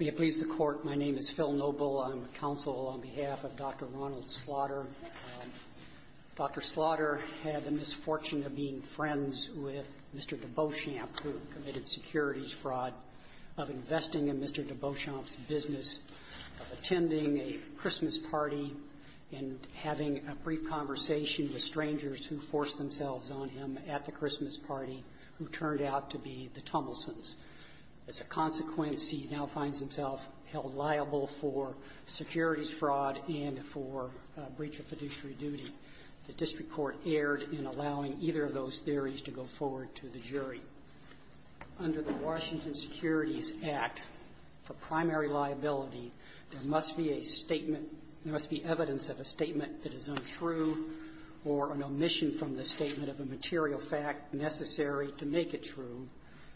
May it please the Court, my name is Phil Noble. I'm with counsel on behalf of Dr. Ronald Slaughter. Dr. Slaughter had the misfortune of being friends with Mr. Debeauchamp, who committed securities fraud, of investing in Mr. Debeauchamp's business, of attending a Christmas party, and having a brief conversation with strangers who forced themselves on him at the Christmas party who turned out to be the Tumelsons. As a consequence, he now finds himself held liable for securities fraud and for breach of fiduciary duty. The district court erred in allowing either of those theories to go forward to the jury. Under the Washington Securities Act, the primary liability, there must be a statement there must be evidence of a statement that is untrue or an omission from the statement of a material fact necessary to make it true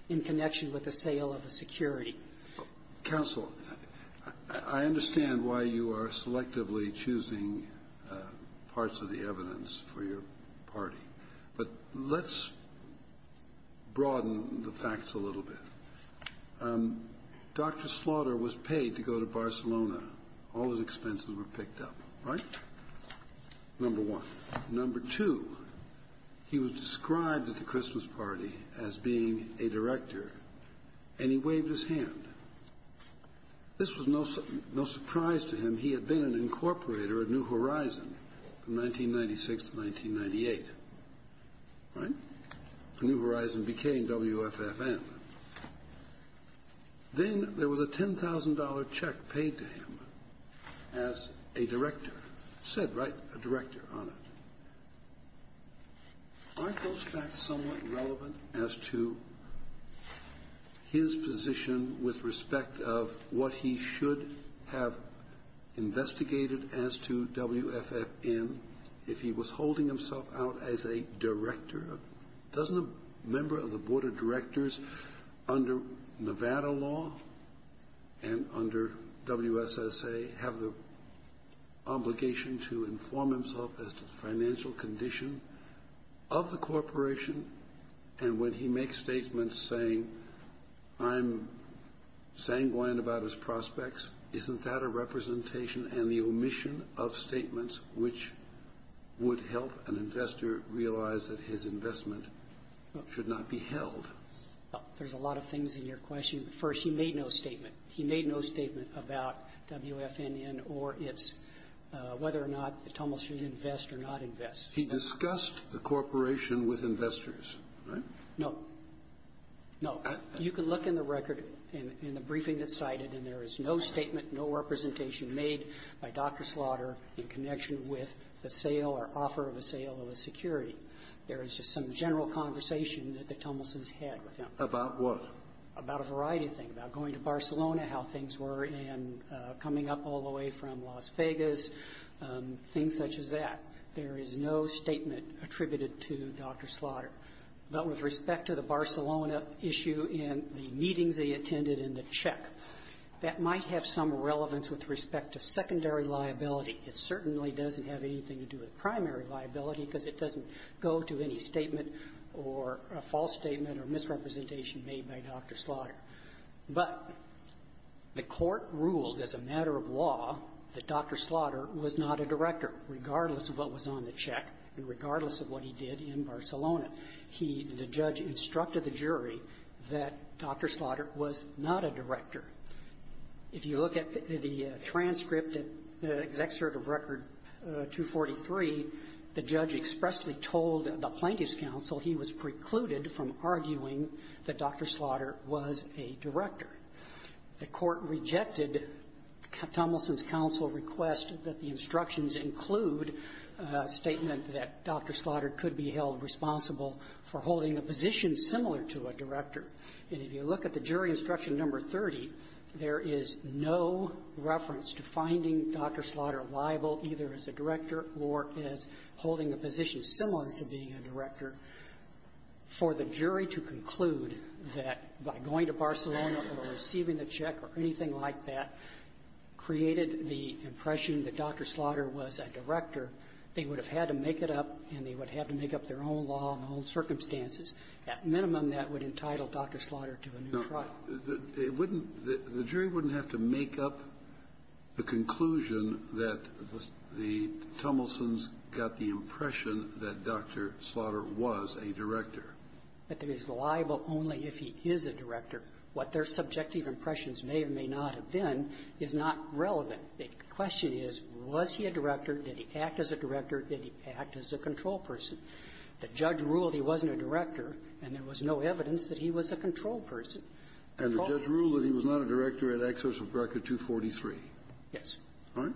in connection with the sale of a security. Counsel, I understand why you are selectively choosing parts of the evidence for your party, but let's broaden the facts a little bit. Dr. Slaughter was paid to go to Barcelona. All his expenses were picked up, right? Number one. Number two, he was described at the Christmas party as being a director, and he waved his hand. This was no surprise to him. He had been an incorporator at New Horizon from 1996 to 1998, right? New Horizon became WFFM. Then there was a $10,000 check paid to him as a director. Said, right? A director on it. Aren't those facts somewhat relevant as to his position with respect of what he should have investigated as to WFFM if he was holding himself out as a director? Doesn't a member of the board of directors under Nevada law and under WSSA have the of the corporation, and when he makes statements saying, I'm sanguine about his prospects, isn't that a representation and the omission of statements which would help an investor realize that his investment should not be held? There's a lot of things in your question. First, he made no statement. He made no statement about WFNN or its whether or not Tummel should invest or not invest. He discussed the corporation with investors, right? No. No. You can look in the record in the briefing that's cited, and there is no statement, no representation made by Dr. Slaughter in connection with the sale or offer of a sale of a security. There is just some general conversation that the Tummelsons had with him. About what? About a variety of things. About going to Barcelona, how things were, and coming up all the way from Las Vegas, things such as that. There is no statement attributed to Dr. Slaughter. But with respect to the Barcelona issue and the meetings they attended and the check, that might have some relevance with respect to secondary liability. It certainly doesn't have anything to do with primary liability because it doesn't go to any statement or a false statement or misrepresentation made by Dr. Slaughter. But the Court ruled as a matter of law that Dr. Slaughter was not a director, regardless of what was on the check and regardless of what he did in Barcelona. He, the judge, instructed the jury that Dr. Slaughter was not a director. If you look at the transcript, the Executive Record 243, the judge expressly told the Plaintiff's Counsel he was precluded from arguing that Dr. Slaughter was a director. The Court rejected Tomlinson's counsel request that the instructions include a statement that Dr. Slaughter could be held responsible for holding a position similar to a director. And if you look at the jury instruction number 30, there is no reference to finding Dr. Slaughter liable either as a director or as holding a position similar to being a director for the jury to conclude that by going to Barcelona or receiving the check or anything like that created the impression that Dr. Slaughter was a director, they would have had to make it up and they would have to make up their own law and their own circumstances. At minimum, that would entitle Dr. Slaughter to a new trial. Kennedy. The jury wouldn't have to make up the conclusion that the Tomlinson's got the impression that Dr. Slaughter was a director. But he is liable only if he is a director. What their subjective impressions may or may not have been is not relevant. The question is, was he a director? Did he act as a director? Did he act as a control person? The judge ruled he wasn't a director, and there was no evidence that he was a control person. And the judge ruled that he was not a director at Executive Record 243. Yes. All right?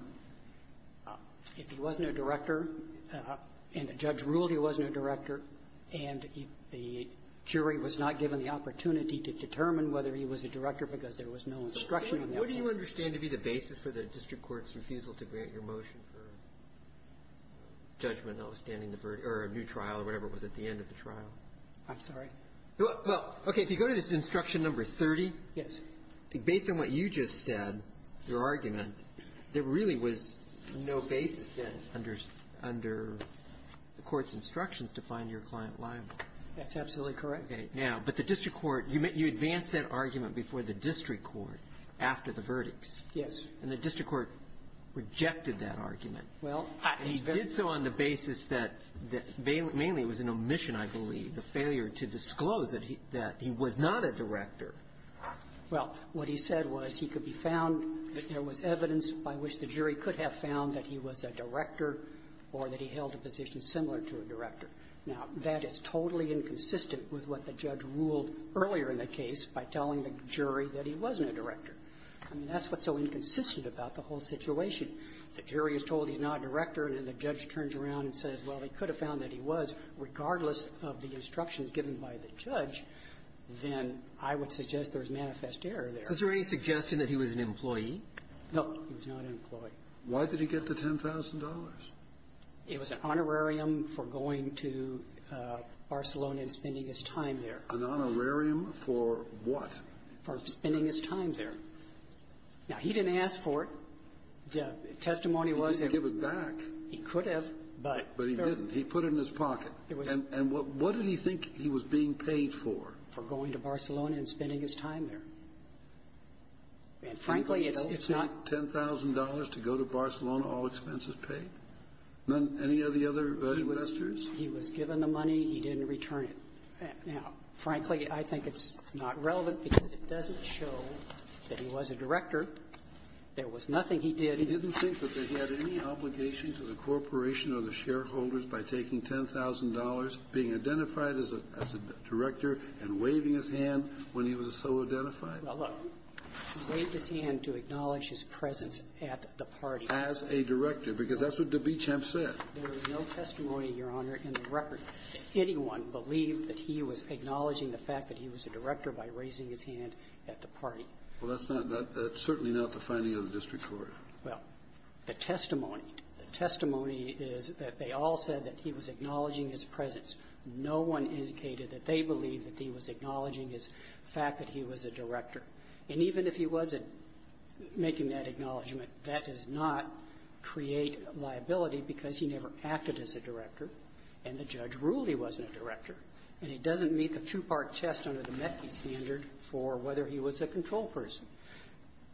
If he wasn't a director, and the judge ruled he wasn't a director, and the jury was not given the opportunity to determine whether he was a director because there was no instruction on that one. What do you understand to be the basis for the district court's refusal to grant your motion for judgment notwithstanding the verdict or a new trial or whatever was at the end of the trial? I'm sorry? Well, okay. If you go to this instruction number 30. Yes. Based on what you just said, your argument, there really was no basis then under the court's instructions to find your client liable. That's absolutely correct. Okay. Now, but the district court, you advanced that argument before the district court after the verdicts. Yes. And the district court rejected that argument. Well, I was very clear. And he did so on the basis that mainly it was an omission, I believe, the failure to disclose that he was not a director. Well, what he said was he could be found, that there was evidence by which the jury could have found that he was a director or that he held a position similar to a director. Now, that is totally inconsistent with what the judge ruled earlier in the case by telling the jury that he wasn't a director. I mean, that's what's so inconsistent about the whole situation. The jury is told he's not a director, and then the judge turns around and says, well, they could have found that he was, regardless of the instructions given by the judge, then I would suggest there was manifest error there. Was there any suggestion that he was an employee? No. He was not an employee. Why did he get the $10,000? It was an honorarium for going to Barcelona and spending his time there. An honorarium for what? For spending his time there. Now, he didn't ask for it. The testimony was that he could have. He didn't give it back. But he didn't. He put it in his pocket. And what did he think he was being paid for? For going to Barcelona and spending his time there. And frankly, it's not ---- Did he take $10,000 to go to Barcelona, all expenses paid? None of the other investors? He was given the money. He didn't return it. Now, frankly, I think it's not relevant because it doesn't show that he was a director. There was nothing he did. He didn't think that he had any obligation to the corporation or the shareholders by taking $10,000, being identified as a director, and waving his hand when he was so identified? Well, look, he waved his hand to acknowledge his presence at the party. As a director, because that's what de Bichamp said. There was no testimony, Your Honor, in the record that anyone believed that he was acknowledging the fact that he was a director by raising his hand at the party. Well, that's not the ---- that's certainly not the finding of the district court. Well, the testimony, the testimony is that they all said that he was acknowledging his presence. No one indicated that they believed that he was acknowledging his fact that he was a director. And even if he wasn't making that acknowledgment, that does not create liability because he never acted as a director, and the judge ruled he wasn't a director. And it doesn't meet the two-part test under the MECI standard for whether he was a control person.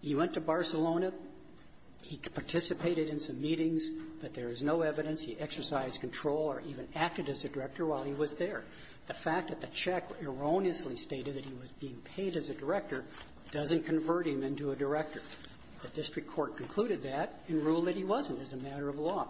He went to Barcelona. He participated in some meetings, but there is no evidence he exercised control or even acted as a director while he was there. The fact that the check erroneously stated that he was being paid as a director doesn't convert him into a director. The district court concluded that and ruled that he wasn't as a matter of law.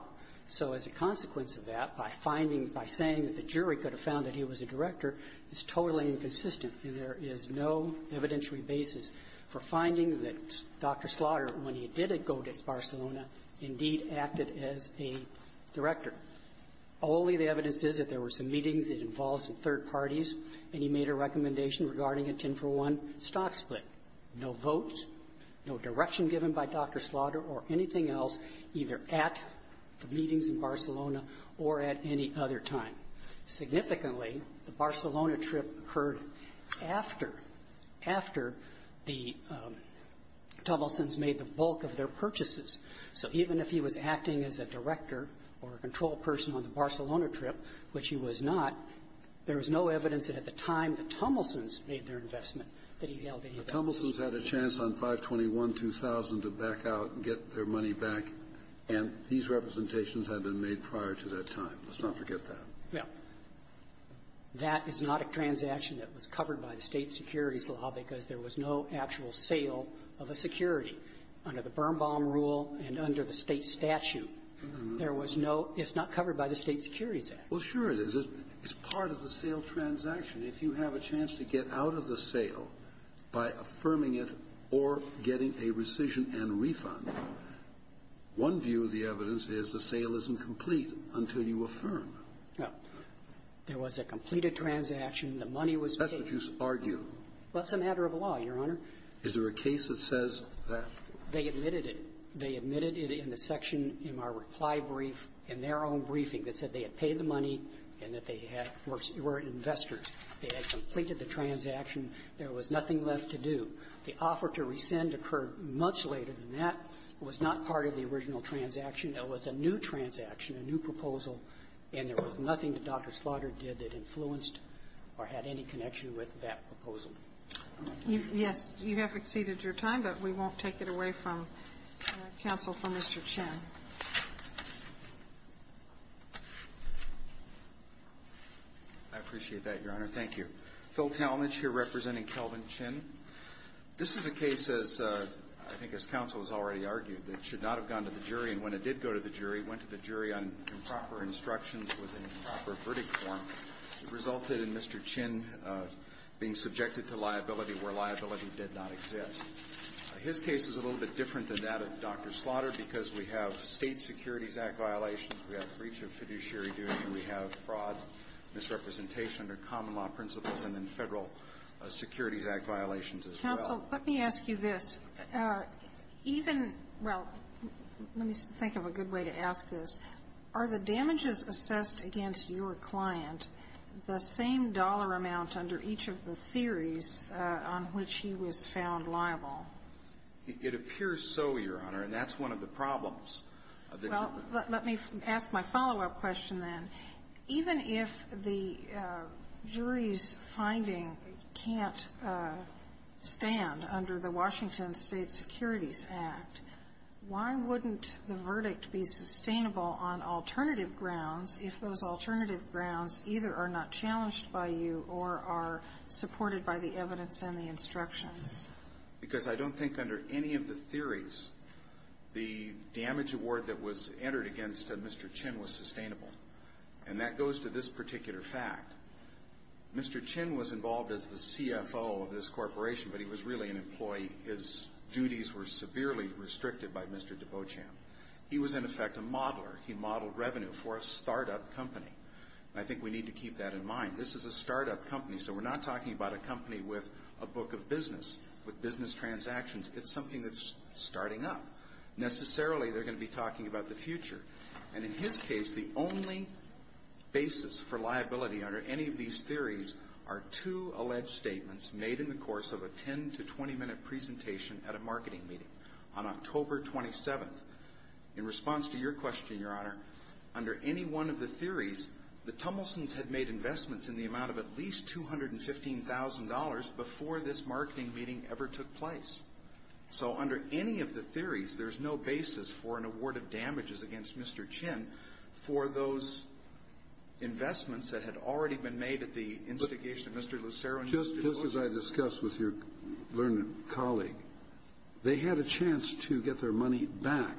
So as a consequence of that, by finding by saying that the jury could have found that he was a director is totally inconsistent, and there is no evidentiary basis for finding that Dr. Slaughter, when he did go to Barcelona, indeed acted as a director. Only the evidence is that there were some meetings that involved some third parties, and he made a recommendation regarding a 10-for-1 stock split. No vote, no direction given by Dr. Slaughter or anything else either at the meetings in Barcelona or at any other time. Significantly, the Barcelona trip occurred after, after the Tumblesons made the bulk of their purchases. So even if he was acting as a director or a control person on the Barcelona trip, which he was not, there was no evidence that at the time the Tumblesons made their investment that he held any value. Kennedy. Kennedy. Tumblesons had a chance on 521-2000 to back out and get their money back, and these representations had been made prior to that time. Let's not forget that. Well, that is not a transaction that was covered by the State Securities Law because there was no actual sale of a security under the Birnbaum rule and under the State statute. There was no – it's not covered by the State Securities Act. Well, sure it is. It's part of the sale transaction. If you have a chance to get out of the sale by affirming it or getting a rescission and refund, one view of the evidence is the sale isn't complete until you affirm. Now, there was a completed transaction. The money was paid. That's what you argue. Well, it's a matter of law, Your Honor. Is there a case that says that? They admitted it. They admitted it in the section in our reply brief, in their own briefing, that said they had paid the money and that they had – were investors. They had completed the transaction. There was nothing left to do. The offer to rescind occurred much later than that. It was not part of the original transaction. It was a new transaction, a new proposal, and there was nothing that Dr. Slaughter did that influenced or had any connection with that proposal. Yes. You have exceeded your time, but we won't take it away from counsel for Mr. Chin. I appreciate that, Your Honor. Thank you. Phil Talmadge here representing Kelvin Chin. This is a case, as I think as counsel has already argued, that should not have gone to the jury, and when it did go to the jury, it went to the jury on improper instructions with an improper verdict form. It resulted in Mr. Chin being subjected to liability where liability did not exist. His case is a little bit different than that of Dr. Slaughter because we have State Securities Act violations, we have breach of fiduciary duty, and we have fraud, misrepresentation under common law principles, and then Federal Securities Act violations as well. Counsel, let me ask you this. Even — well, let me think of a good way to ask this. Are the damages assessed against your client the same dollar amount under each of the theories on which he was found liable? It appears so, Your Honor, and that's one of the problems. Well, let me ask my follow-up question then. Even if the jury's finding can't stand under the Washington State Securities Act, why wouldn't the verdict be sustainable on alternative grounds if those alternative grounds either are not challenged by you or are supported by the evidence and the instructions? Because I don't think under any of the theories, the damage award that was entered against Mr. Chin was sustainable. And that goes to this particular fact. Mr. Chin was involved as the CFO of this corporation, but he was really an employee. His duties were severely restricted by Mr. de Beauchamp. He was, in effect, a modeler. He modeled revenue for a startup company. I think we need to keep that in mind. This is a startup company, so we're not talking about a company with a book of business, with business transactions. It's something that's starting up. Necessarily, they're going to be talking about the future. And in his case, the only basis for liability under any of these theories are two alleged statements made in the course of a 10- to 20-minute presentation at a marketing meeting on October 27th. In response to your question, Your Honor, under any one of the theories, the Tumblesons had made investments in the amount of at least $215,000 before this marketing meeting ever took place. So under any of the theories, there's no basis for an award of damages against Mr. Chin for those investments that had already been made at the instigation of Mr. Lucero and Mr. de Beauchamp. Just as I discussed with your learned colleague, they had a chance to get their money back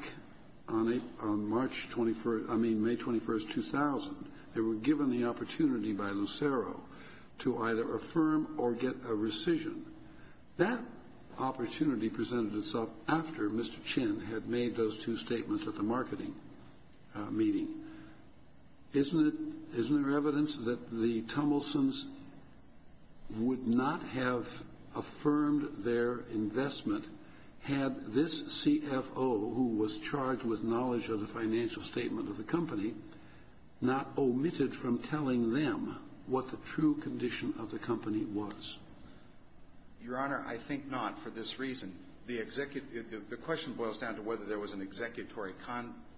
on March 21st, I mean, May 21st, 2000. They were given the opportunity by Lucero to either affirm or get a rescission. That opportunity presented itself after Mr. Chin had made those two statements at the marketing meeting. Isn't there evidence that the Tumblesons would not have affirmed their investment had this CFO, who was charged with knowledge of the financial statement of the company, not omitted from telling them what the true condition of the company was? Your Honor, I think not for this reason. The question boils down to whether there was an executory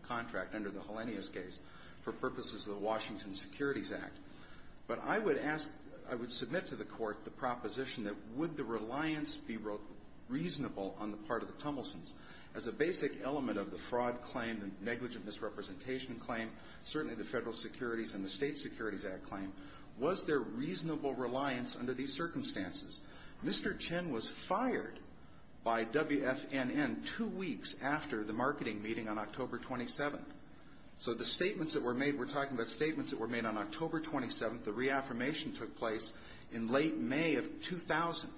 contract under the Helenius case for purposes of the Washington Securities Act. But I would submit to the Court the proposition that would the reliance be reasonable on the part of the Tumblesons as a basic element of the fraud claim, the negligent misrepresentation claim, certainly the Federal Securities and the State Securities Act claim. Was there reasonable reliance under these circumstances? Mr. Chin was fired by WFNN two weeks after the marketing meeting on October 27th. So the statements that were made, we're talking about statements that were made on October 27th, the reaffirmation took place in late May of 2000.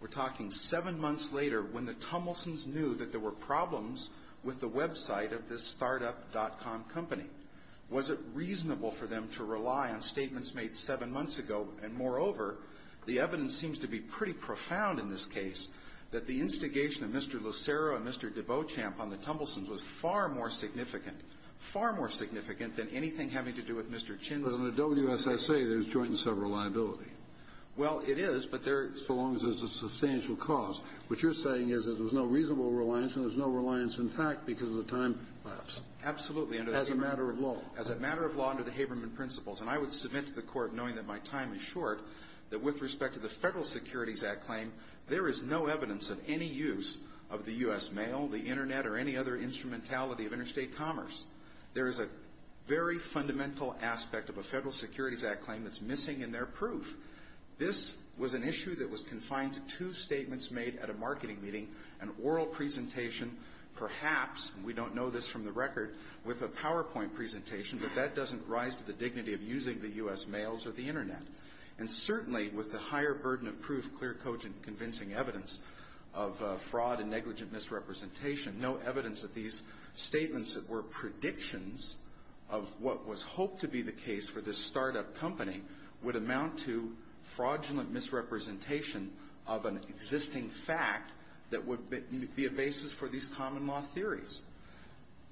We're talking seven months later when the Tumblesons knew that there were problems with the website of this startup.com company. Was it reasonable for them to rely on statements made seven months ago? And moreover, the evidence seems to be pretty profound in this case that the instigation of Mr. Lucero and Mr. Debeauchamp on the Tumblesons was far more significant, far more significant than anything having to do with Mr. Chin's. But on the WSSA, there's joint and several liability. Well, it is, but there. So long as there's a substantial cost. What you're saying is that there's no reasonable reliance and there's no reliance in fact because of the time lapse. Absolutely. And as a matter of law. As a matter of law under the Haberman principles. And I would submit to the court knowing that my time is short, that with respect to the Federal Securities Act claim, there is no evidence of any use of the U.S. mail, the internet, or any other instrumentality of interstate commerce. There is a very fundamental aspect of a Federal Securities Act claim that's missing in their proof. This was an issue that was confined to two statements made at a marketing meeting, an oral presentation, perhaps, and we don't know this from the record, with a PowerPoint presentation. But that doesn't rise to the dignity of using the U.S. mails or the internet. And certainly, with the higher burden of proof, clear, cogent, convincing evidence of fraud and negligent misrepresentation, no evidence that these statements that were predictions of what was hoped to be the case for this startup company would amount to fraudulent misrepresentation of an existing fact that would be a basis for these common law theories.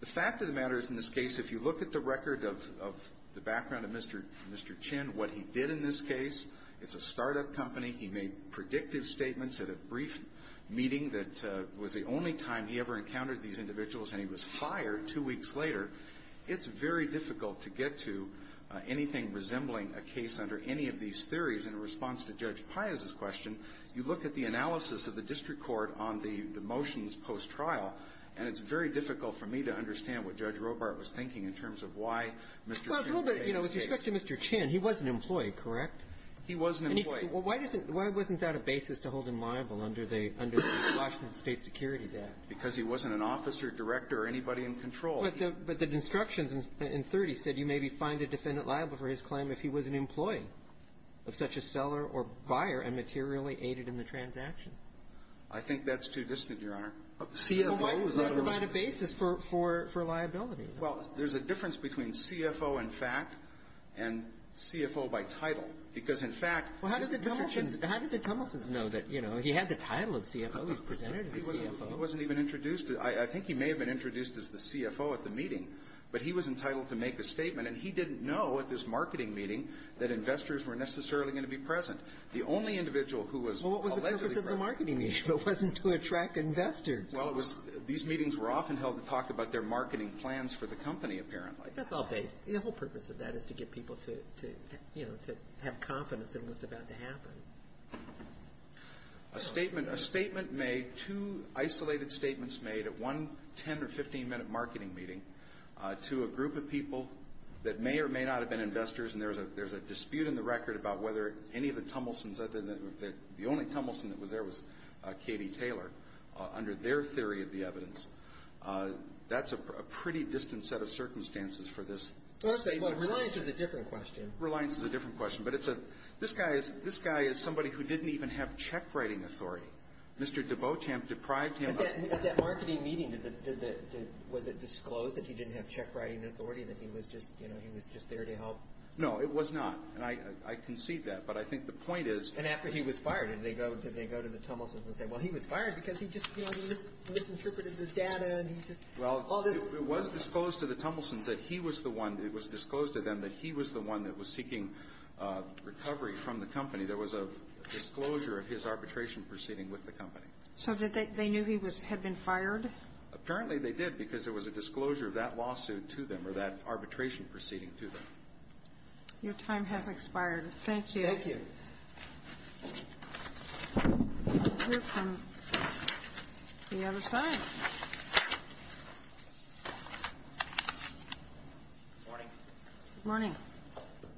The fact of the matter is in this case, if you look at the record of the background of Mr. Chin, what he did in this case, it's a startup company. He made predictive statements at a brief meeting that was the only time he ever encountered these individuals, and he was fired two weeks later. It's very difficult to get to anything resembling a case under any of these theories. In response to Judge Piazza's question, you look at the analysis of the district court on the motions post-trial, and it's very difficult for me to understand what Judge Robart was thinking in terms of why Mr. Chin was made the case. Well, it's a little bit, you know, with respect to Mr. Chin, he wasn't employed, correct? He wasn't employed. Why doesn't that a basis to hold him liable under the Washington State Securities Act? Because he wasn't an officer, director, or anybody in control. But the instructions in 30 said you may be fined a defendant liable for his claim if he was an employee of such a seller or buyer and materially aided in the transaction. I think that's too distant, Your Honor. CFO is not a basis. But why provide a basis for liability? Well, there's a difference between CFO in fact and CFO by title, because in fact Mr. Chin's How did the Tummelsons know that, you know, he had the title of CFO, he was presented as a CFO? He wasn't even introduced. I think he may have been introduced as the CFO at the meeting, but he was entitled to make a statement. And he didn't know at this marketing meeting that investors were necessarily going to be present. The only individual who was allegedly present Well, what was the purpose of the marketing meeting if it wasn't to attract investors? Well, it was, these meetings were often held to talk about their marketing plans for the company apparently. That's all based, the whole purpose of that is to get people to, you know, to have confidence in what's about to happen. A statement made, two isolated statements made at one 10 or 15 minute marketing meeting to a group of people that may or may not have been investors. And there's a dispute in the record about whether any of the Tummelsons, the only Tummelson that was there was Katie Taylor, under their theory of the evidence. That's a pretty distant set of circumstances for this statement. Reliance is a different question. Reliance is a different question. But it's a, this guy is, this guy is somebody who didn't even have check writing authority. Mr. Debochamp deprived him of that. At that marketing meeting, did the, did the, was it disclosed that he didn't have check writing authority? That he was just, you know, he was just there to help? No, it was not. And I, I concede that. But I think the point is. And after he was fired, did they go, did they go to the Tummelsons and say, well, he was fired because he just, you know, he misinterpreted the data and he just. Well, it was disclosed to the Tummelsons that he was the one, it was disclosed to them that he was the one that was seeking recovery from the company. There was a disclosure of his arbitration proceeding with the company. So did they, they knew he was, had been fired? Apparently they did because there was a disclosure of that lawsuit to them or that arbitration proceeding to them. Your time has expired. Thank you. Thank you. We'll hear from the other side. Good morning. Good morning.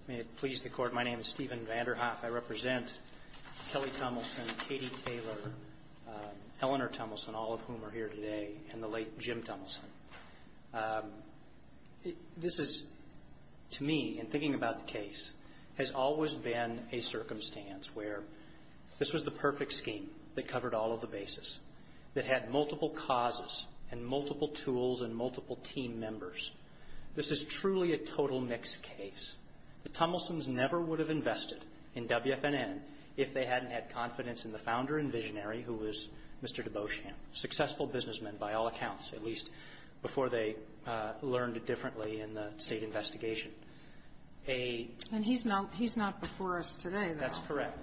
May it please the Court, my name is Stephen Vanderhoff. I represent Kelly Tummelson, Katie Taylor, Eleanor Tummelson, all of whom are here today, and the late Jim Tummelson. This is, to me, in thinking about the case, has always been a circumstance where this was the perfect scheme that covered all of the bases, that had multiple causes and multiple tools and multiple team members. This is truly a total mixed case. The Tummelsons never would have invested in WFNN if they hadn't had confidence in the founder and visionary who was Mr. Debauchamp, successful businessman by all accounts, at least before they learned it differently in the State investigation. And he's not before us today, though. That's correct.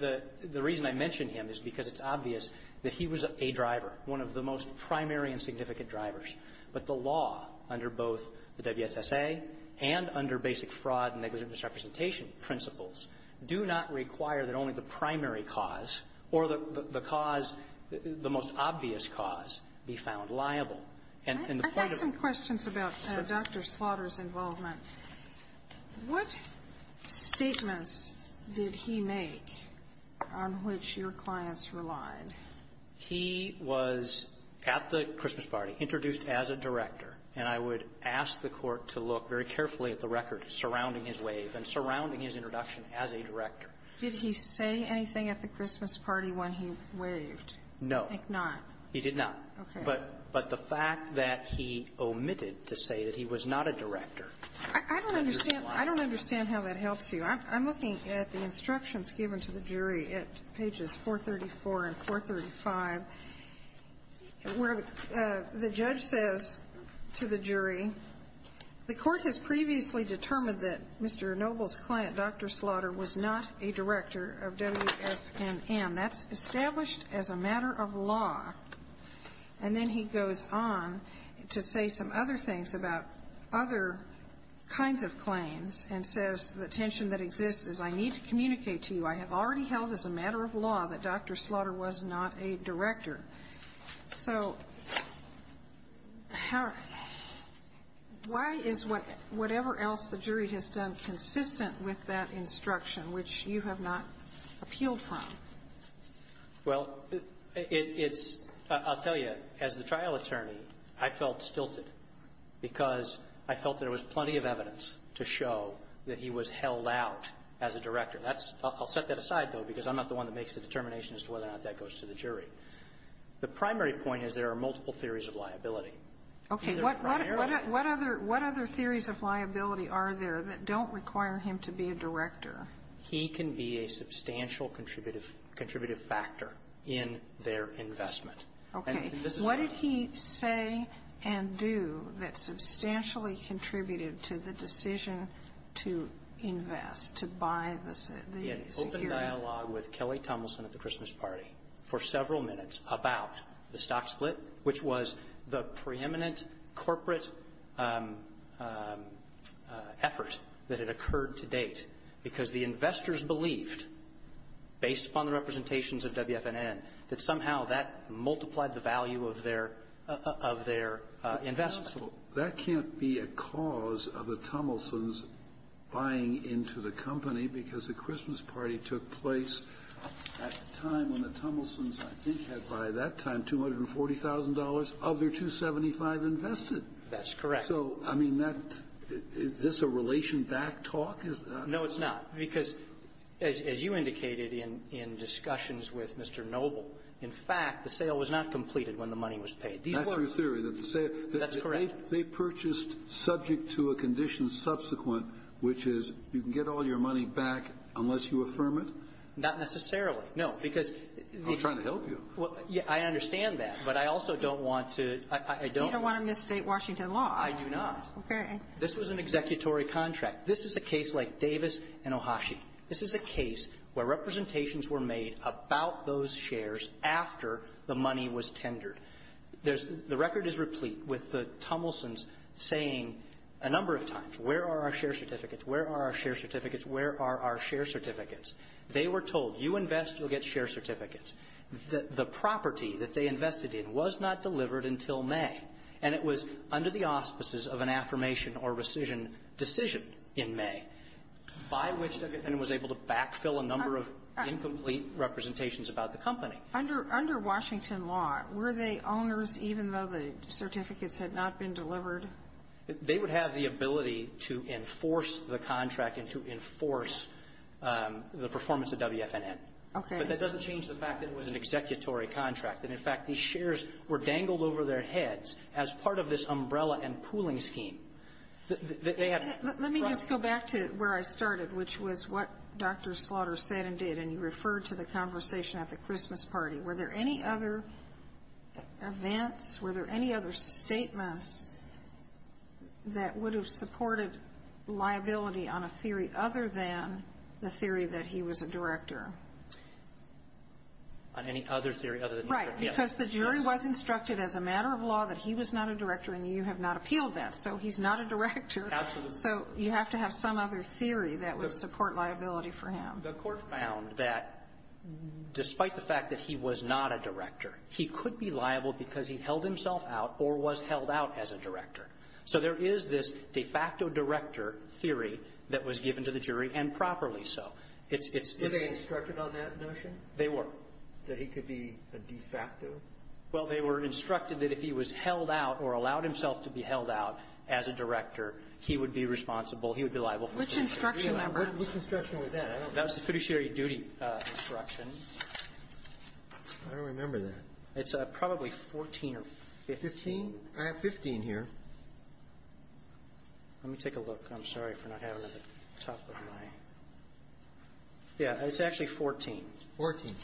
The reason I mention him is because it's obvious that he was a driver, one of the most primary and significant drivers. But the law under both the WSSA and under basic fraud and negligent misrepresentation principles do not require that only the primary cause or the cause, the most obvious cause, be found liable. And the point of the question is about Dr. Slaughter's involvement. What statements did he make on which your clients relied? He was at the Christmas party, introduced as a director. And I would ask the Court to look very carefully at the record surrounding his wave and surrounding his introduction as a director. Did he say anything at the Christmas party when he waved? No. He did not. Okay. But the fact that he omitted to say that he was not a director. I don't understand. I don't understand how that helps you. I'm looking at the instructions given to the jury at pages 434 and 435, where the judge says to the jury, the Court has previously determined that Mr. Noble's client, Dr. Slaughter, was not a director of WFNM. That's established as a matter of law. And then he goes on to say some other things about other kinds of claims and says the tension that exists is I need to communicate to you, I have already held as a matter of law that Dr. Slaughter was not a director. So why is whatever else the jury has done consistent with that instruction, which you have not appealed from? Well, it's – I'll tell you. As the trial attorney, I felt stilted because I felt there was plenty of evidence to show that he was held out as a director. That's – I'll set that aside, though, because I'm not the one that makes the determination as to whether or not that goes to the jury. The primary point is there are multiple theories of liability. Okay. What other – what other theories of liability are there that don't require him to be a director? He can be a substantial contributive factor in their investment. Okay. What did he say and do that substantially contributed to the decision to invest, to buy the security? He had an open dialogue with Kelly Tomlinson at the Christmas party for several minutes about the stock split, which was the preeminent corporate effort that had because the investors believed, based upon the representations of WFNN, that somehow that multiplied the value of their – of their investment. That can't be a cause of the Tomlinson's buying into the company because the Christmas party took place at a time when the Tomlinson's, I think, had by that time $240,000 of their 275 invested. That's correct. So, I mean, that – is this a relation-backed talk? No, it's not. Because, as you indicated in – in discussions with Mr. Noble, in fact, the sale was not completed when the money was paid. These were – That's your theory, that the sale – That's correct. They purchased subject to a condition subsequent, which is you can get all your money back unless you affirm it? Not necessarily. No, because the – I'm trying to help you. Well, I understand that, but I also don't want to – I don't – You don't want to misstate Washington law. I do not. Okay. This was an executory contract. This is a case like Davis and Ohashi. This is a case where representations were made about those shares after the money was tendered. There's – the record is replete with the Tomlinson's saying a number of times, where are our share certificates, where are our share certificates, where are our share certificates. They were told, you invest, you'll get share certificates. The property that they invested in was not delivered until May, and it was under the auspices of an affirmation or rescission decision in May by which WFNN was able to backfill a number of incomplete representations about the company. Under Washington law, were the owners, even though the certificates had not been delivered? They would have the ability to enforce the contract and to enforce the performance of WFNN. Okay. But that doesn't change the fact that it was an executory contract. That, in fact, these shares were dangled over their heads as part of this umbrella and pooling scheme. Let me just go back to where I started, which was what Dr. Slaughter said and did, and you referred to the conversation at the Christmas party. Were there any other events, were there any other statements that would have supported liability on a theory other than the theory that he was a director? On any other theory other than the theory? Right. Because the jury was instructed as a matter of law that he was not a director, and you have not appealed that. So he's not a director. Absolutely. So you have to have some other theory that would support liability for him. The Court found that despite the fact that he was not a director, he could be liable because he held himself out or was held out as a director. So there is this de facto director theory that was given to the jury, and properly Is he instructed on that notion? They were. That he could be a de facto? Well, they were instructed that if he was held out or allowed himself to be held out as a director, he would be responsible. He would be liable. Which instruction was that? That was the fiduciary duty instruction. I don't remember that. It's probably 14 or 15. Fifteen? I have 15 here. Let me take a look. I'm sorry for not having it at the top of my ---- Yeah. It's actually 14. Fourteen.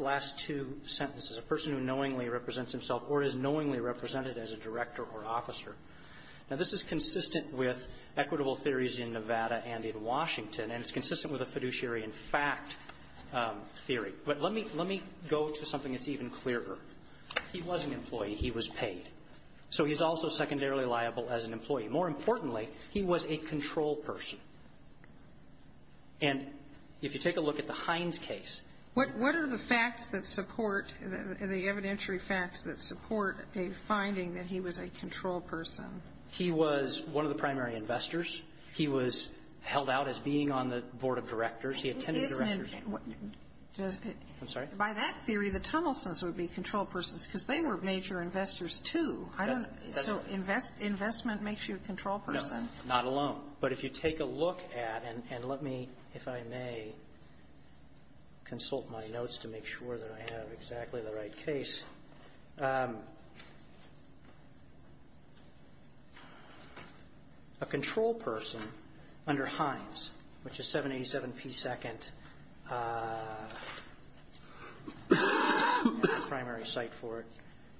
Last two sentences. A person who knowingly represents himself or is knowingly represented as a director or officer. Now, this is consistent with equitable theories in Nevada and in Washington, and it's consistent with a fiduciary in fact theory. But let me go to something that's even clearer. He was an employee. He was paid. So he's also secondarily liable as an employee. More importantly, he was a control person. And if you take a look at the Hines case ---- What are the facts that support, the evidentiary facts that support a finding that he was a control person? He was one of the primary investors. He was held out as being on the board of directors. He attended directors' meetings. Isn't it ---- I'm sorry? By that theory, the Tunnelsons would be control persons because they were major investors, too. So investment makes you a control person? No. Not alone. But if you take a look at ---- and let me, if I may, consult my notes to make sure that I have exactly the right case. A control person under Hines, which is 787P2nd, primary site for it,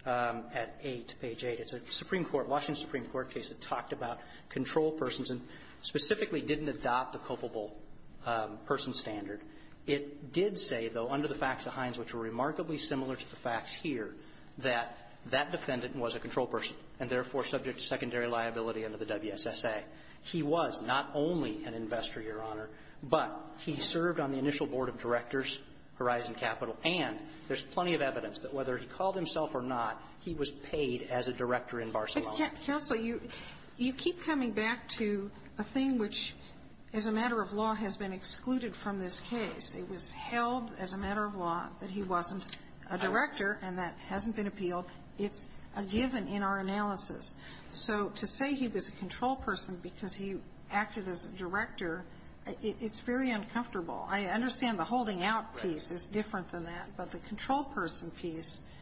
at 8, page 8. It's a Supreme Court, Washington Supreme Court case that talked about control persons and specifically didn't adopt the culpable person standard. It did say, though, under the facts of Hines, which were remarkably similar to the facts here, that that defendant was a control person and, therefore, subject to secondary liability under the WSSA. He was not only an investor, Your Honor, but he served on the initial board of directors, Horizon Capital, and there's plenty of evidence that whether he called himself or not, he was paid as a director in Barcelona. Counsel, you keep coming back to a thing which, as a matter of law, has been excluded from this case. It was held as a matter of law that he wasn't a director, and that hasn't been appealed. It's a given in our analysis. So to say he was a control person because he acted as a director, it's very uncomfortable. I understand the holding out piece is different than that, but the control person piece ----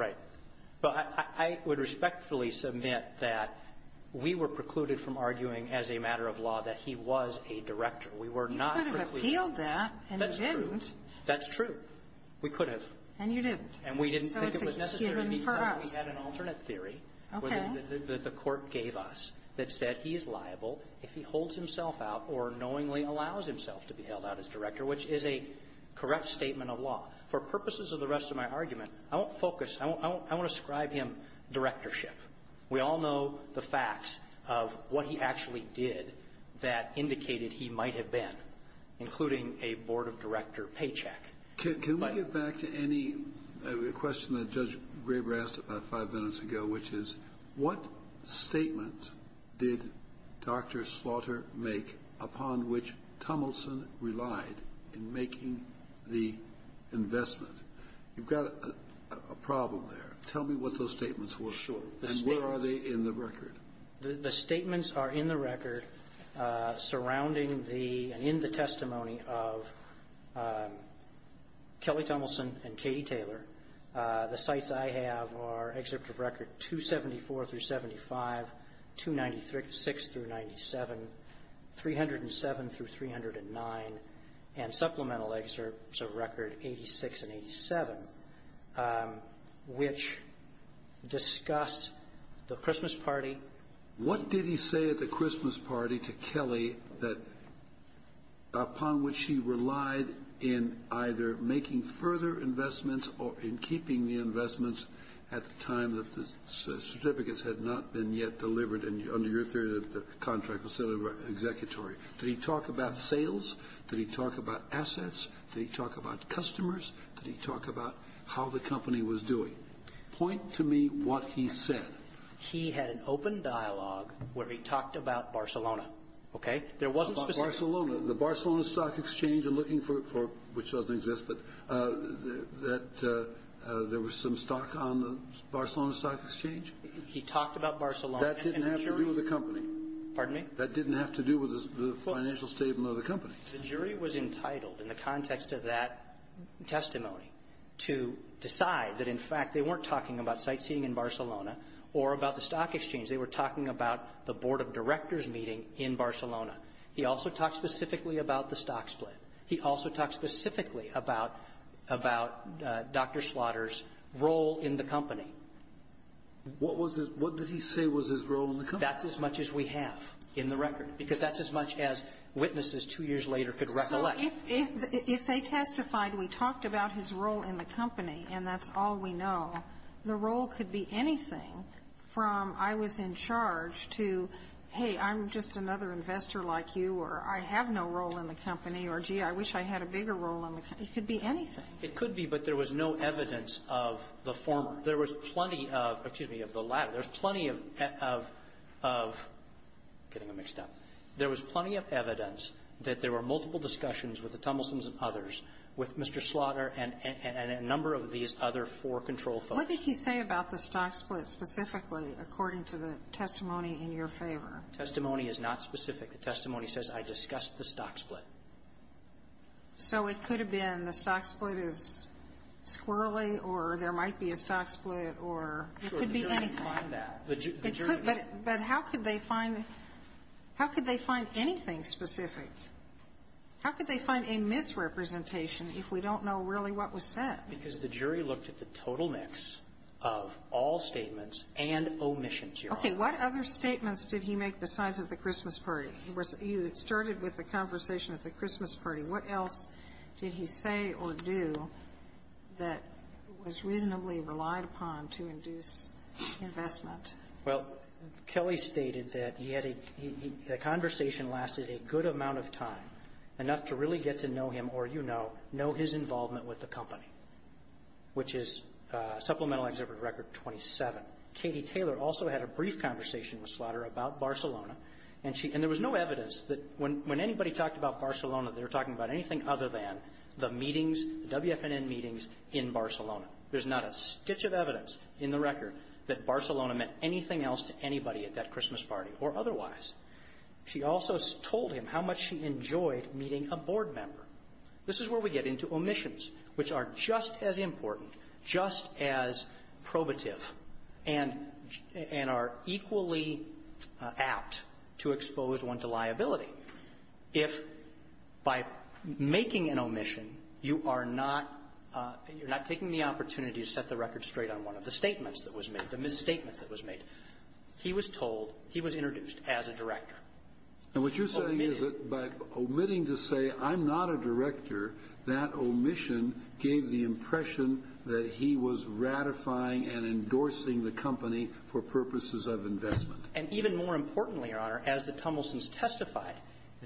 Right. But I would respectfully submit that we were precluded from arguing as a matter of law that he was a director. We were not precluded. You could have appealed that, and you didn't. That's true. That's true. We could have. And you didn't. And we didn't think it was necessary because we had an alternate theory that the Court gave us that said he is liable if he holds himself out or knowingly allows himself to be held out as director, which is a correct statement of law. For purposes of the rest of my argument, I won't focus. I want to ascribe him directorship. We all know the facts of what he actually did that indicated he might have been, including a board of director paycheck. Can we get back to any question that Judge Graber asked about five minutes ago, which is, what statement did Dr. Slaughter make upon which Tummelson relied in making the investment? You've got a problem there. Tell me what those statements were. Sure. And where are they in the record? The statements are in the record surrounding the and in the testimony of Kelly Tummelson and Katie Taylor. The cites I have are excerpt of record 274 through 75, 296 through 97, 307 through 309, and supplemental excerpts of record 86 and 87, which discuss the Christmas party. What did he say at the Christmas party to Kelly that upon which he relied in either making further investments or in keeping the investments at the time that the certificates had not been yet delivered under your theory that the contract was set at the executory? Did he talk about sales? Did he talk about assets? Did he talk about customers? Did he talk about how the company was doing? Point to me what he said. He had an open dialogue where he talked about Barcelona, okay? There wasn't specific Barcelona. The Barcelona Stock Exchange, I'm looking for, which doesn't exist, but that there was some stock on the Barcelona Stock Exchange. He talked about Barcelona. That didn't have to do with the company. Pardon me? That didn't have to do with the financial statement of the company. The jury was entitled in the context of that testimony to decide that, in fact, they weren't talking about sightseeing in Barcelona or about the Stock Exchange. They were talking about the board of directors meeting in Barcelona. He also talked specifically about the stock split. He also talked specifically about Dr. Slaughter's role in the company. What was his – what did he say was his role in the company? That's as much as we have in the record, because that's as much as witnesses two years later could recollect. So if they testified, we talked about his role in the company, and that's all we know, the role could be anything from I was in charge to, hey, I'm just another investor like you, or I have no role in the company, or, gee, I wish I had a bigger role in the company. It could be anything. It could be, but there was no evidence of the former. There was plenty of – excuse me, of the latter. There was plenty of – getting it mixed up. There was plenty of evidence that there were multiple discussions with the Tumblesons and others, with Mr. Slaughter and a number of these other four control folks. What did he say about the stock split specifically according to the testimony in your favor? Testimony is not specific. The testimony says, I discussed the stock split. So it could have been the stock split is squirrely, or there might be a stock split, or it could be anything. Sure. The jury could find that. But how could they find – how could they find anything specific? How could they find a misrepresentation if we don't know really what was said? Okay. What other statements did he make besides at the Christmas party? He started with the conversation at the Christmas party. What else did he say or do that was reasonably relied upon to induce investment? Well, Kelly stated that he had a – the conversation lasted a good amount of time, enough to really get to know him or, you know, know his involvement with the company, which is Supplemental Exhibit Record 27. Katie Taylor also had a brief conversation with Slaughter about Barcelona, and there was no evidence that when anybody talked about Barcelona, they were talking about anything other than the meetings, the WFNN meetings in Barcelona. There's not a stitch of evidence in the record that Barcelona meant anything else to anybody at that Christmas party or otherwise. She also told him how much she enjoyed meeting a board member. This is where we get into omissions, which are just as important, just as probative, and – and are equally apt to expose one to liability. If by making an omission, you are not – you're not taking the opportunity to set the record straight on one of the statements that was made, the misstatements that was made. He was told – he was introduced as a director. And what you're saying is that by omitting to say, I'm not a director, that omission gave the impression that he was ratifying and endorsing the company for purposes of investment. And even more importantly, Your Honor, as the Tumblesees testified,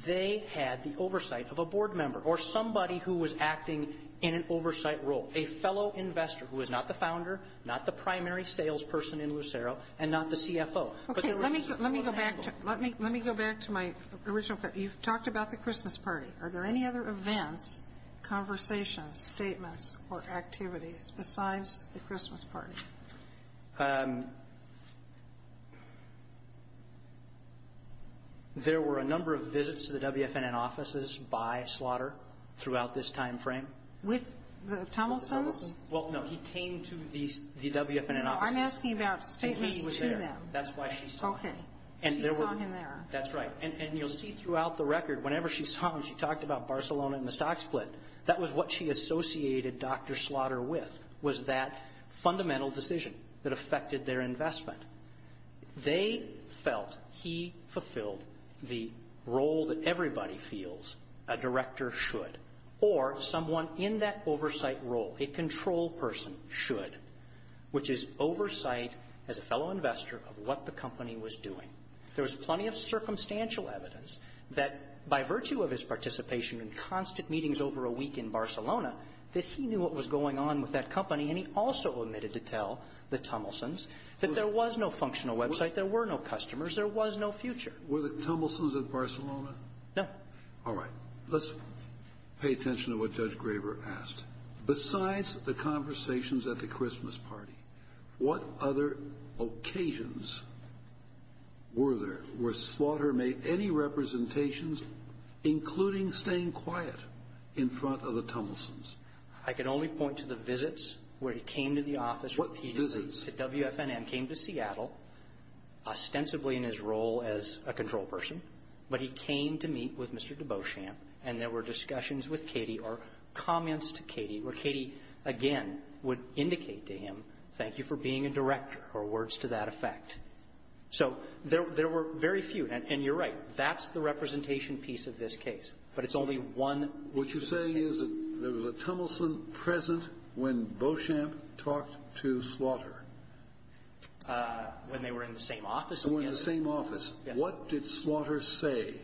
they had the oversight of a board member or somebody who was acting in an oversight role, a fellow investor who was not the founder, not the primary salesperson in Lucero, and not the CFO. Okay. Let me – let me go back to – let me – let me go back to my original question. You've talked about the Christmas party. Are there any other events, conversations, statements, or activities besides the Christmas party? There were a number of visits to the WFNN offices by Slaughter throughout this timeframe. With the Tumblesees? Well, no. He came to the WFNN offices. No. I'm asking about statements to them. That's why she saw him. Okay. She saw him there. That's right. And you'll see throughout the record, whenever she saw him, she talked about Barcelona and the stock split. That was what she associated Dr. Slaughter with, was that fundamental decision that affected their investment. They felt he fulfilled the role that everybody feels a director should. Or someone in that oversight role, a control person, should, which is oversight, as a fellow investor, of what the company was doing. There was plenty of circumstantial evidence that, by virtue of his participation in constant meetings over a week in Barcelona, that he knew what was going on with that company, and he also omitted to tell the Tumblesees that there was no functional website, there were no customers, there was no future. Were the Tumblesees at Barcelona? No. All right. Let's pay attention to what Judge Graber asked. Besides the conversations at the Christmas party, what other occasions were there where Slaughter made any representations, including staying quiet in front of the Tumblesees? I can only point to the visits where he came to the office repeatedly. What visits? The WFNN came to Seattle, ostensibly in his role as a control person, but he came to meet with Mr. de Beauchamp, and there were discussions with Katie or comments to Katie, where Katie, again, would indicate to him, thank you for being a director or words to that effect. So there were very few. And you're right. That's the representation piece of this case, but it's only one piece of this case. What you're saying is that there was a Tumblesee present when Beauchamp talked to Slaughter? When they were in the same office. Oh, in the same office. Yes. What did Slaughter say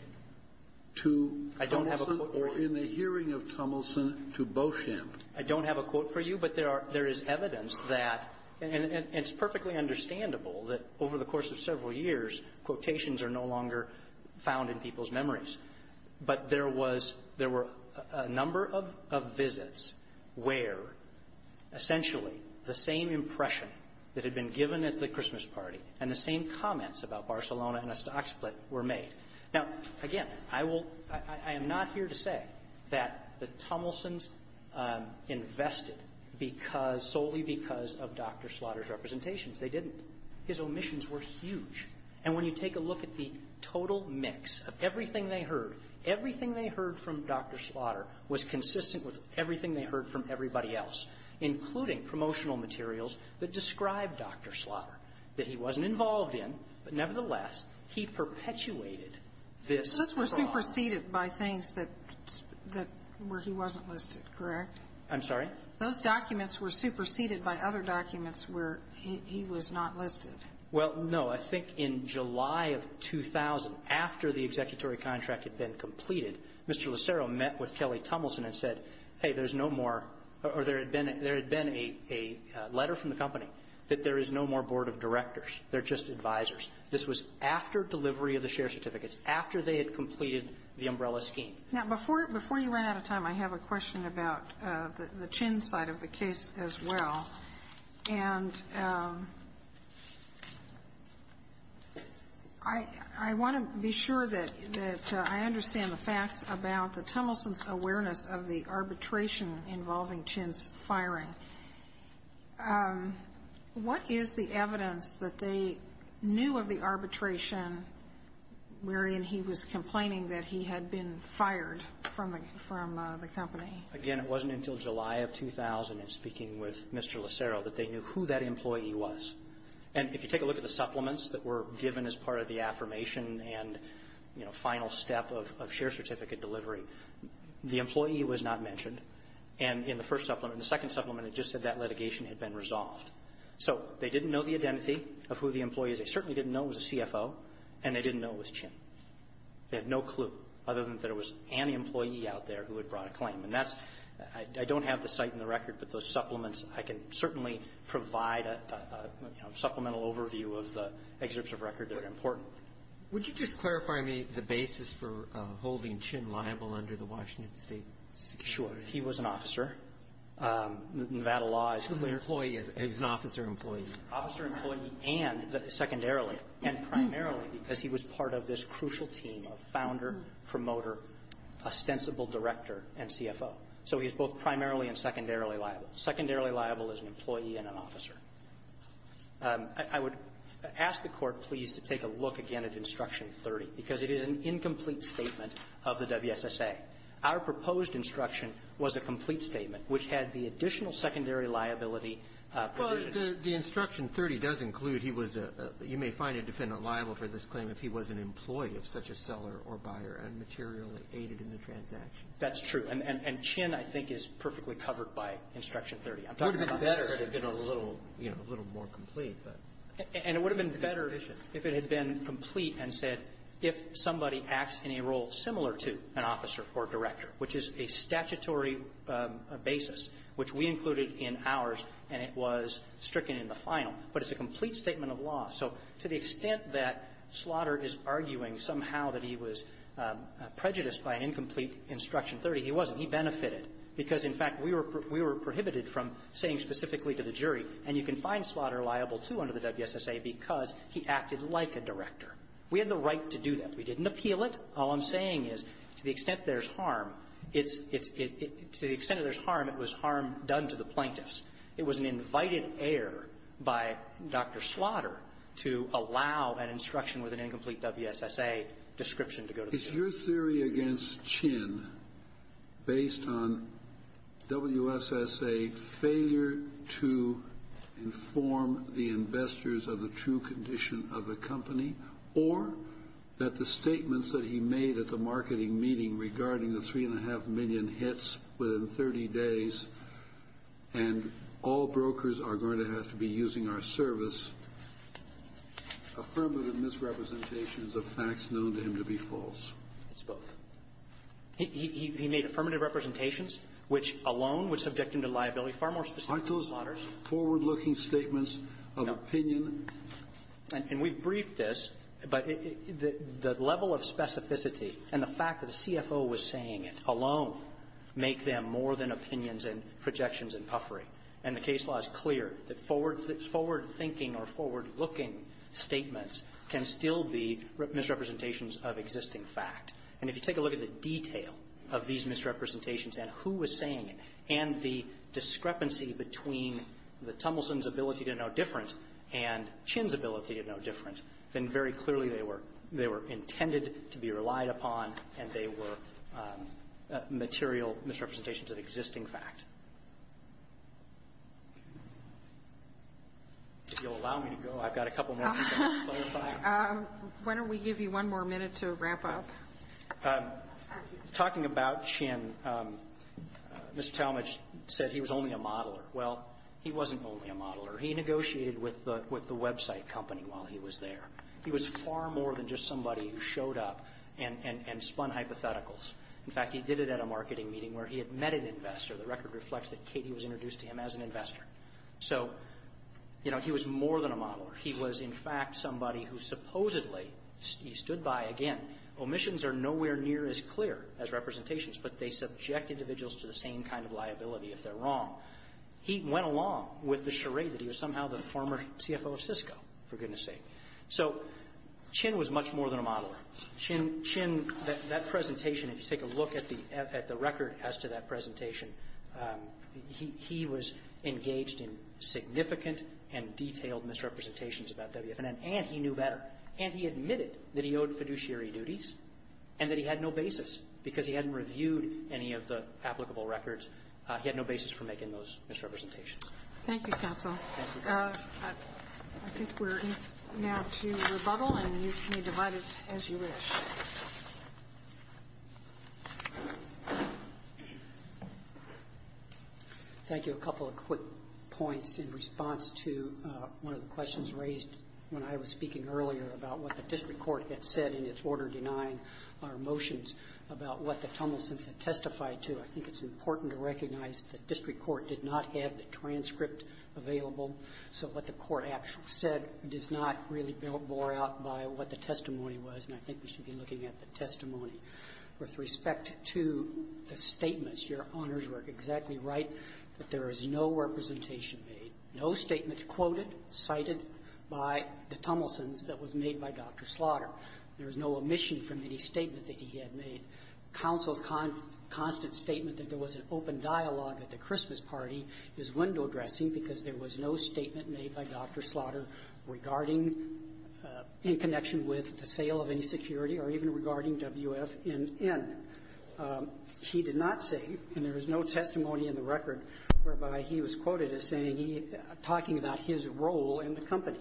to Tumblesee or in the hearing of Tumblesee to Beauchamp? I don't have a quote for you, but there are – there is evidence that – and it's perfectly understandable that over the course of several years, quotations are no longer found in people's memories. But there was – there were a number of visits where, essentially, the same impression that had been given at the Christmas party and the same comments about Barcelona and a stock split were made. Now, again, I will – I am not here to say that the Tumblesees invested because – solely because of Dr. Slaughter's representations. They didn't. His omissions were huge. And when you take a look at the total mix of everything they heard, everything they heard from Dr. Slaughter was consistent with everything they heard from everybody else, including promotional materials that described Dr. Slaughter, that he wasn't involved in, but nevertheless, he perpetuated this phenomenon. Those were superseded by things that – that – where he wasn't listed, correct? I'm sorry? Those documents were superseded by other documents where he was not listed. Well, no. I think in July of 2000, after the executory contract had been completed, Mr. Lucero met with Kelly Tumbleson and said, hey, there's no more – or there had been – there had been a letter from the company that there is no more board of directors. They're just advisors. This was after delivery of the share certificates, after they had completed the umbrella Now, before you run out of time, I have a question about the Chin side of the case as well. And I want to be sure that I understand the facts about the Tumblesons' awareness of the arbitration involving Chin's firing. What is the evidence that they knew of the arbitration wherein he was complaining that he had been fired from the company? Again, it wasn't until July of 2000 in speaking with Mr. Lucero that they knew who that employee was. And if you take a look at the supplements that were given as part of the affirmation and, you know, final step of share certificate delivery, the employee was not mentioned. And in the first supplement, the second supplement, it just said that litigation had been resolved. So they didn't know the identity of who the employee is. They certainly didn't know it was a CFO, and they didn't know it was Chin. They had no clue, other than that it was any employee out there who had brought a claim. And that's – I don't have the site and the record, but those supplements, I can certainly provide a, you know, supplemental overview of the excerpts of record that are important. Would you just clarify to me the basis for holding Chin liable under the Washington State security? Sure. He was an officer. Nevada law is clear. He was an employee. He was an officer-employee. He was an officer-employee and secondarily, and primarily because he was part of this crucial team of founder, promoter, ostensible director, and CFO. So he's both primarily and secondarily liable. Secondarily liable is an employee and an officer. I would ask the Court, please, to take a look again at Instruction 30, because it is an incomplete statement of the WSSA. Our proposed instruction was a complete statement which had the additional secondary liability provision. Well, the Instruction 30 does include he was a – you may find a defendant liable for this claim if he was an employee of such a seller or buyer and materially aided in the transaction. That's true. And Chin, I think, is perfectly covered by Instruction 30. I'm talking about this. It would have been better if it had been a little, you know, a little more complete. And it would have been better if it had been complete and said if somebody acts in which we included in ours, and it was stricken in the final. But it's a complete statement of law. So to the extent that Slaughter is arguing somehow that he was prejudiced by an incomplete Instruction 30, he wasn't. He benefited because, in fact, we were – we were prohibited from saying specifically to the jury. And you can find Slaughter liable, too, under the WSSA because he acted like a director. We had the right to do that. We didn't appeal it. All I'm saying is, to the extent there's harm, it's – to the extent that there's harm, it was harm done to the plaintiffs. It was an invited error by Dr. Slaughter to allow an instruction with an incomplete WSSA description to go to the jury. Kennedy. Is your theory against Chin based on WSSA failure to inform the investors of the true condition of the company, or that the statements that he made at the marketing meeting regarding the 3.5 million hits within 30 days, and all brokers are going to have to be using our service, affirmative misrepresentations of facts known to him to be false? It's both. He made affirmative representations, which alone would subject him to liability far more specific than Slaughter's. Aren't those forward-looking statements of opinion? And we've briefed this, but the level of specificity and the fact that the CFO was saying it alone make them more than opinions and projections and puffery. And the case law is clear that forward-thinking or forward-looking statements can still be misrepresentations of existing fact. And if you take a look at the detail of these misrepresentations and who was saying it and the discrepancy between the Tumbleson's ability to know different and Chin's ability to know different, then very clearly they were intended to be relied upon and they were material misrepresentations of existing fact. If you'll allow me to go, I've got a couple more things I want to clarify. Why don't we give you one more minute to wrap up? Talking about Chin, Mr. Talmadge said he was only a modeler. Well, he wasn't only a modeler. He negotiated with the website company while he was there. He was far more than just somebody who showed up and spun hypotheticals. In fact, he did it at a marketing meeting where he had met an investor. The record reflects that Katie was introduced to him as an investor. So, you know, he was more than a modeler. He was, in fact, somebody who supposedly, he stood by, again, omissions are nowhere near as clear as representations, but they subject individuals to the same kind of liability if they're wrong. He went along with the charade that he was somehow the former CFO of Cisco, for goodness sake. So Chin was much more than a modeler. Chin, that presentation, if you take a look at the record as to that presentation, he was engaged in significant and detailed misrepresentations about WFNN, and he knew better, and he admitted that he owed fiduciary duties and that he had no basis, because he hadn't reviewed any of the applicable records. He had no basis for making those misrepresentations. Thank you, counsel. Thank you. I think we're now to rebuttal, and you may divide it as you wish. Thank you. A couple of quick points in response to one of the questions raised when I was speaking earlier about what the district court had said in its order to deny our motions about what the Tummelsons had testified to. I think it's important to recognize that district court did not have the transcript available, so what the court actually said does not really bore out by what the testimony was, and I think we should be looking at the testimony. With respect to the statements, Your Honors were exactly right that there is no representation made, no statements quoted, cited by the Tummelsons that was made by Dr. Slaughter. There is no omission from any statement that he had made. Counsel's constant statement that there was an open dialogue at the Christmas party is window-dressing because there was no statement made by Dr. Slaughter regarding, in connection with the sale of any security, or even regarding WFNN. He did not say, and there is no testimony in the record whereby he was quoted as saying he – talking about his role in the company.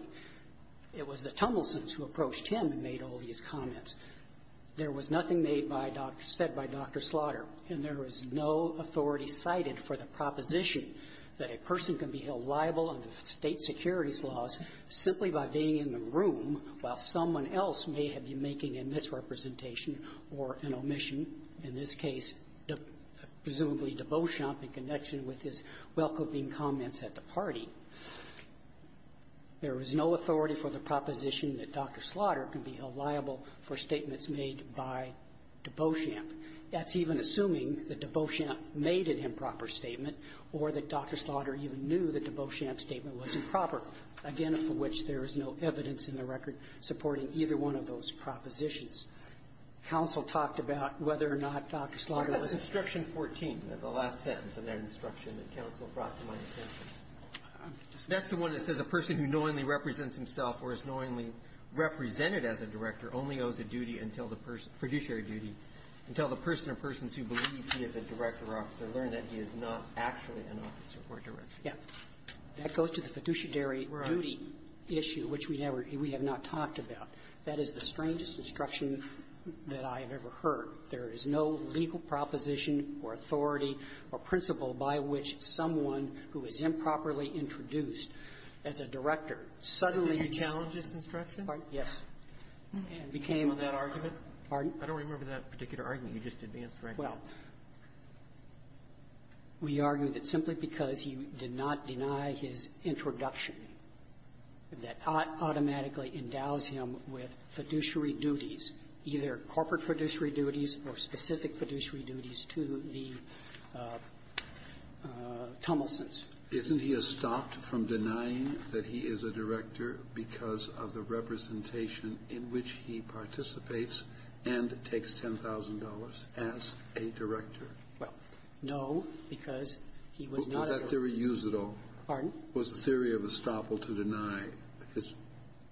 It was the Tummelsons who approached him and made all these comments. There was nothing made by – said by Dr. Slaughter, and there was no authority cited for the proposition that a person can be held liable under State securities laws simply by being in the room while someone else may have been making a misrepresentation or an omission, in this case, presumably to Beauchamp in connection with his welcoming comments at the party. There was no authority for the proposition that Dr. Slaughter can be held liable for statements made by Beauchamp. That's even assuming that Beauchamp made an improper statement or that Dr. Slaughter even knew that Beauchamp's statement was improper, again, for which there is no evidence in the record supporting either one of those propositions. Counsel talked about whether or not Dr. Slaughter was a – Roberts. 14, the last sentence of that instruction that counsel brought to my attention. That's the one that says a person who knowingly represents himself or is knowingly represented as a director only owes a duty until the person – fiduciary duty until the person or persons who believe he is a director or officer learn that he is not actually an officer or director. Yeah. That goes to the fiduciary duty issue, which we never – we have not talked about. That is the strangest instruction that I have ever heard. There is no legal proposition or authority or principle by which someone who is improperly introduced as a director suddenly – Did you challenge this instruction? Yes. And became – On that argument? Pardon? I don't remember that particular argument. You just advanced right now. Well, we argue that simply because he did not deny his introduction, that automatically endows him with fiduciary duties, either corporate fiduciary duties or specific fiduciary duties to the Tummelsons. Isn't he estopped from denying that he is a director because of the representation in which he participates and takes $10,000 as a director? Well, no, because he was not a director. Was that theory used at all? Pardon? Was the theory of estoppel to deny his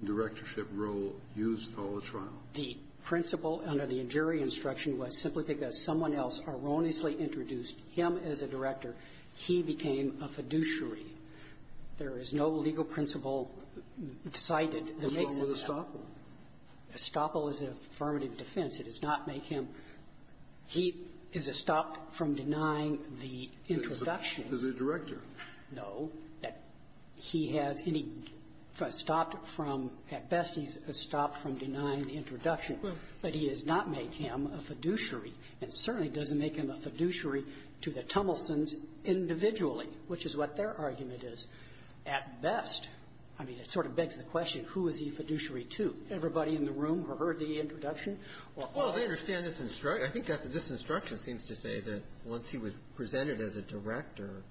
directorship role used at all in the trial? The principle under the injury instruction was simply because someone else erroneously introduced him as a director, he became a fiduciary. There is no legal principle cited that makes it so. So the estoppel? Estoppel is an affirmative defense. It does not make him – he is estopped from denying the introduction. As a director. No. He has any – estopped from – at best, he's estopped from denying the introduction. But he does not make him a fiduciary, and certainly doesn't make him a fiduciary to the Tummelsons individually, which is what their argument is. At best, I mean, it sort of begs the question, who is he a fiduciary to? Everybody in the room who heard the introduction? Well, I understand this – I think this instruction seems to say that once he was presented as a director,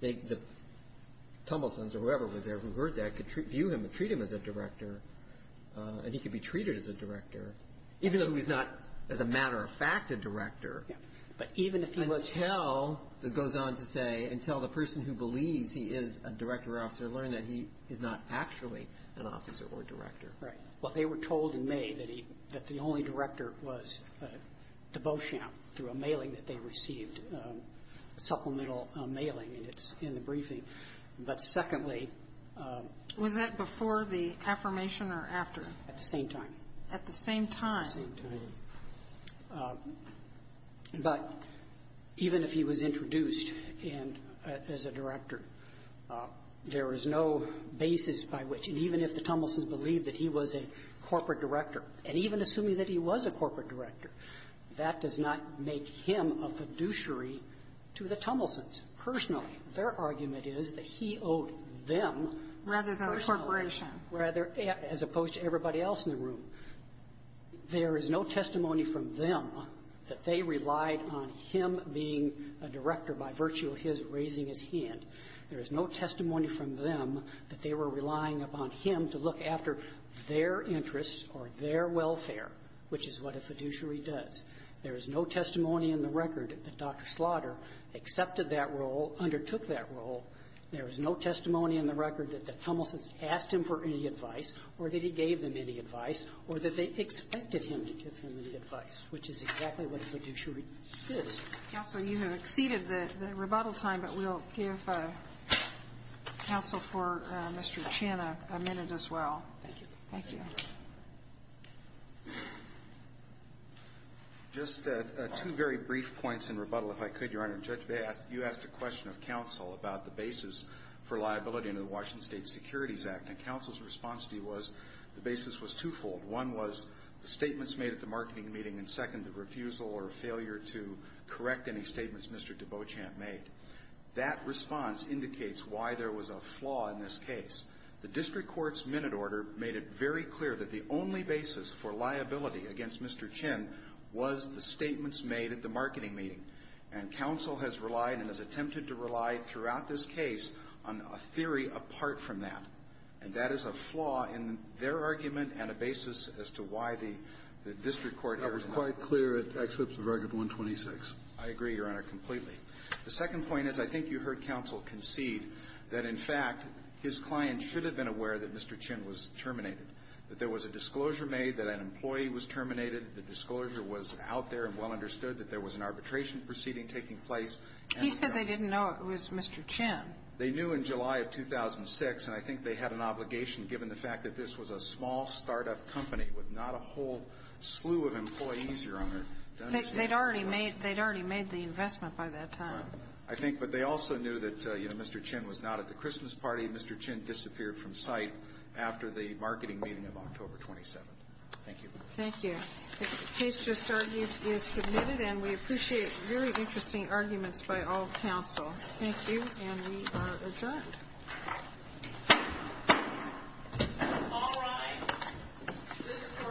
they – the Tummelsons or whoever was there who heard that could view him and treat him as a director, and he could be treated as a director, even though he's not, as a matter of fact, a director. Yes. But even if he was – Until, it goes on to say, until the person who believes he is a director or officer learned that he is not actually an officer or director. Right. Well, they were told in May that he – that the only director was de Beauchamp through a mailing that they received, supplemental mailing, and it's in the briefing. But secondly – Was that before the affirmation or after? At the same time. At the same time. At the same time. But even if he was introduced and as a director, there is no basis by which – and even if the Tummelsons believed that he was a corporate director, and even assuming that he was a corporate director, that does not make him a fiduciary to the Tummelsons personally. Their argument is that he owed them personally. Rather than a corporation. Rather – as opposed to everybody else in the room. There is no testimony from them that they relied on him being a director by virtue of his raising his hand. There is no testimony from them that they were relying upon him to look after their interests or their welfare, which is what a fiduciary does. There is no testimony in the record that Dr. Slaughter accepted that role, undertook that role. There is no testimony in the record that the Tummelsons asked him for any advice or that he gave them any advice or that they expected him to give them any advice, which is exactly what a fiduciary does. Counsel, you have exceeded the rebuttal time, but we'll give counsel for Mr. Chin a minute as well. Thank you. Thank you. Just two very brief points in rebuttal, if I could, Your Honor. Judge, you asked a question of counsel about the basis for liability under the Washington State Securities Act. And counsel's response to you was the basis was twofold. One was the statements made at the marketing meeting, and second, the refusal or failure to correct any statements Mr. Debeauchamp made. That response indicates why there was a flaw in this case. The district court's minute order made it very clear that the only basis for liability against Mr. Chin was the statements made at the marketing meeting. And counsel has relied and has attempted to rely throughout this case on a theory apart from that. And that is a flaw in their argument and a basis as to why the district court here is not going to do it. I was quite clear it excepts the very good 126. I agree, Your Honor, completely. The second point is I think you heard counsel concede that, in fact, his client should have been aware that Mr. Chin was terminated, that there was a disclosure made that an employee was terminated, the disclosure was out there and well understood, that there was an arbitration proceeding taking place. He said they didn't know it was Mr. Chin. They knew in July of 2006, and I think they had an obligation given the fact that this was a small startup company with not a whole slew of employees, Your Honor. They'd already made the investment by that time. I think. But they also knew that, you know, Mr. Chin was not at the Christmas party. Mr. Chin disappeared from sight after the marketing meeting of October 27th. Thank you. Thank you. The case just argued is submitted, and we appreciate very interesting arguments by all counsel. Thank you. And we are adjourned. All rise. This court for the second hearing.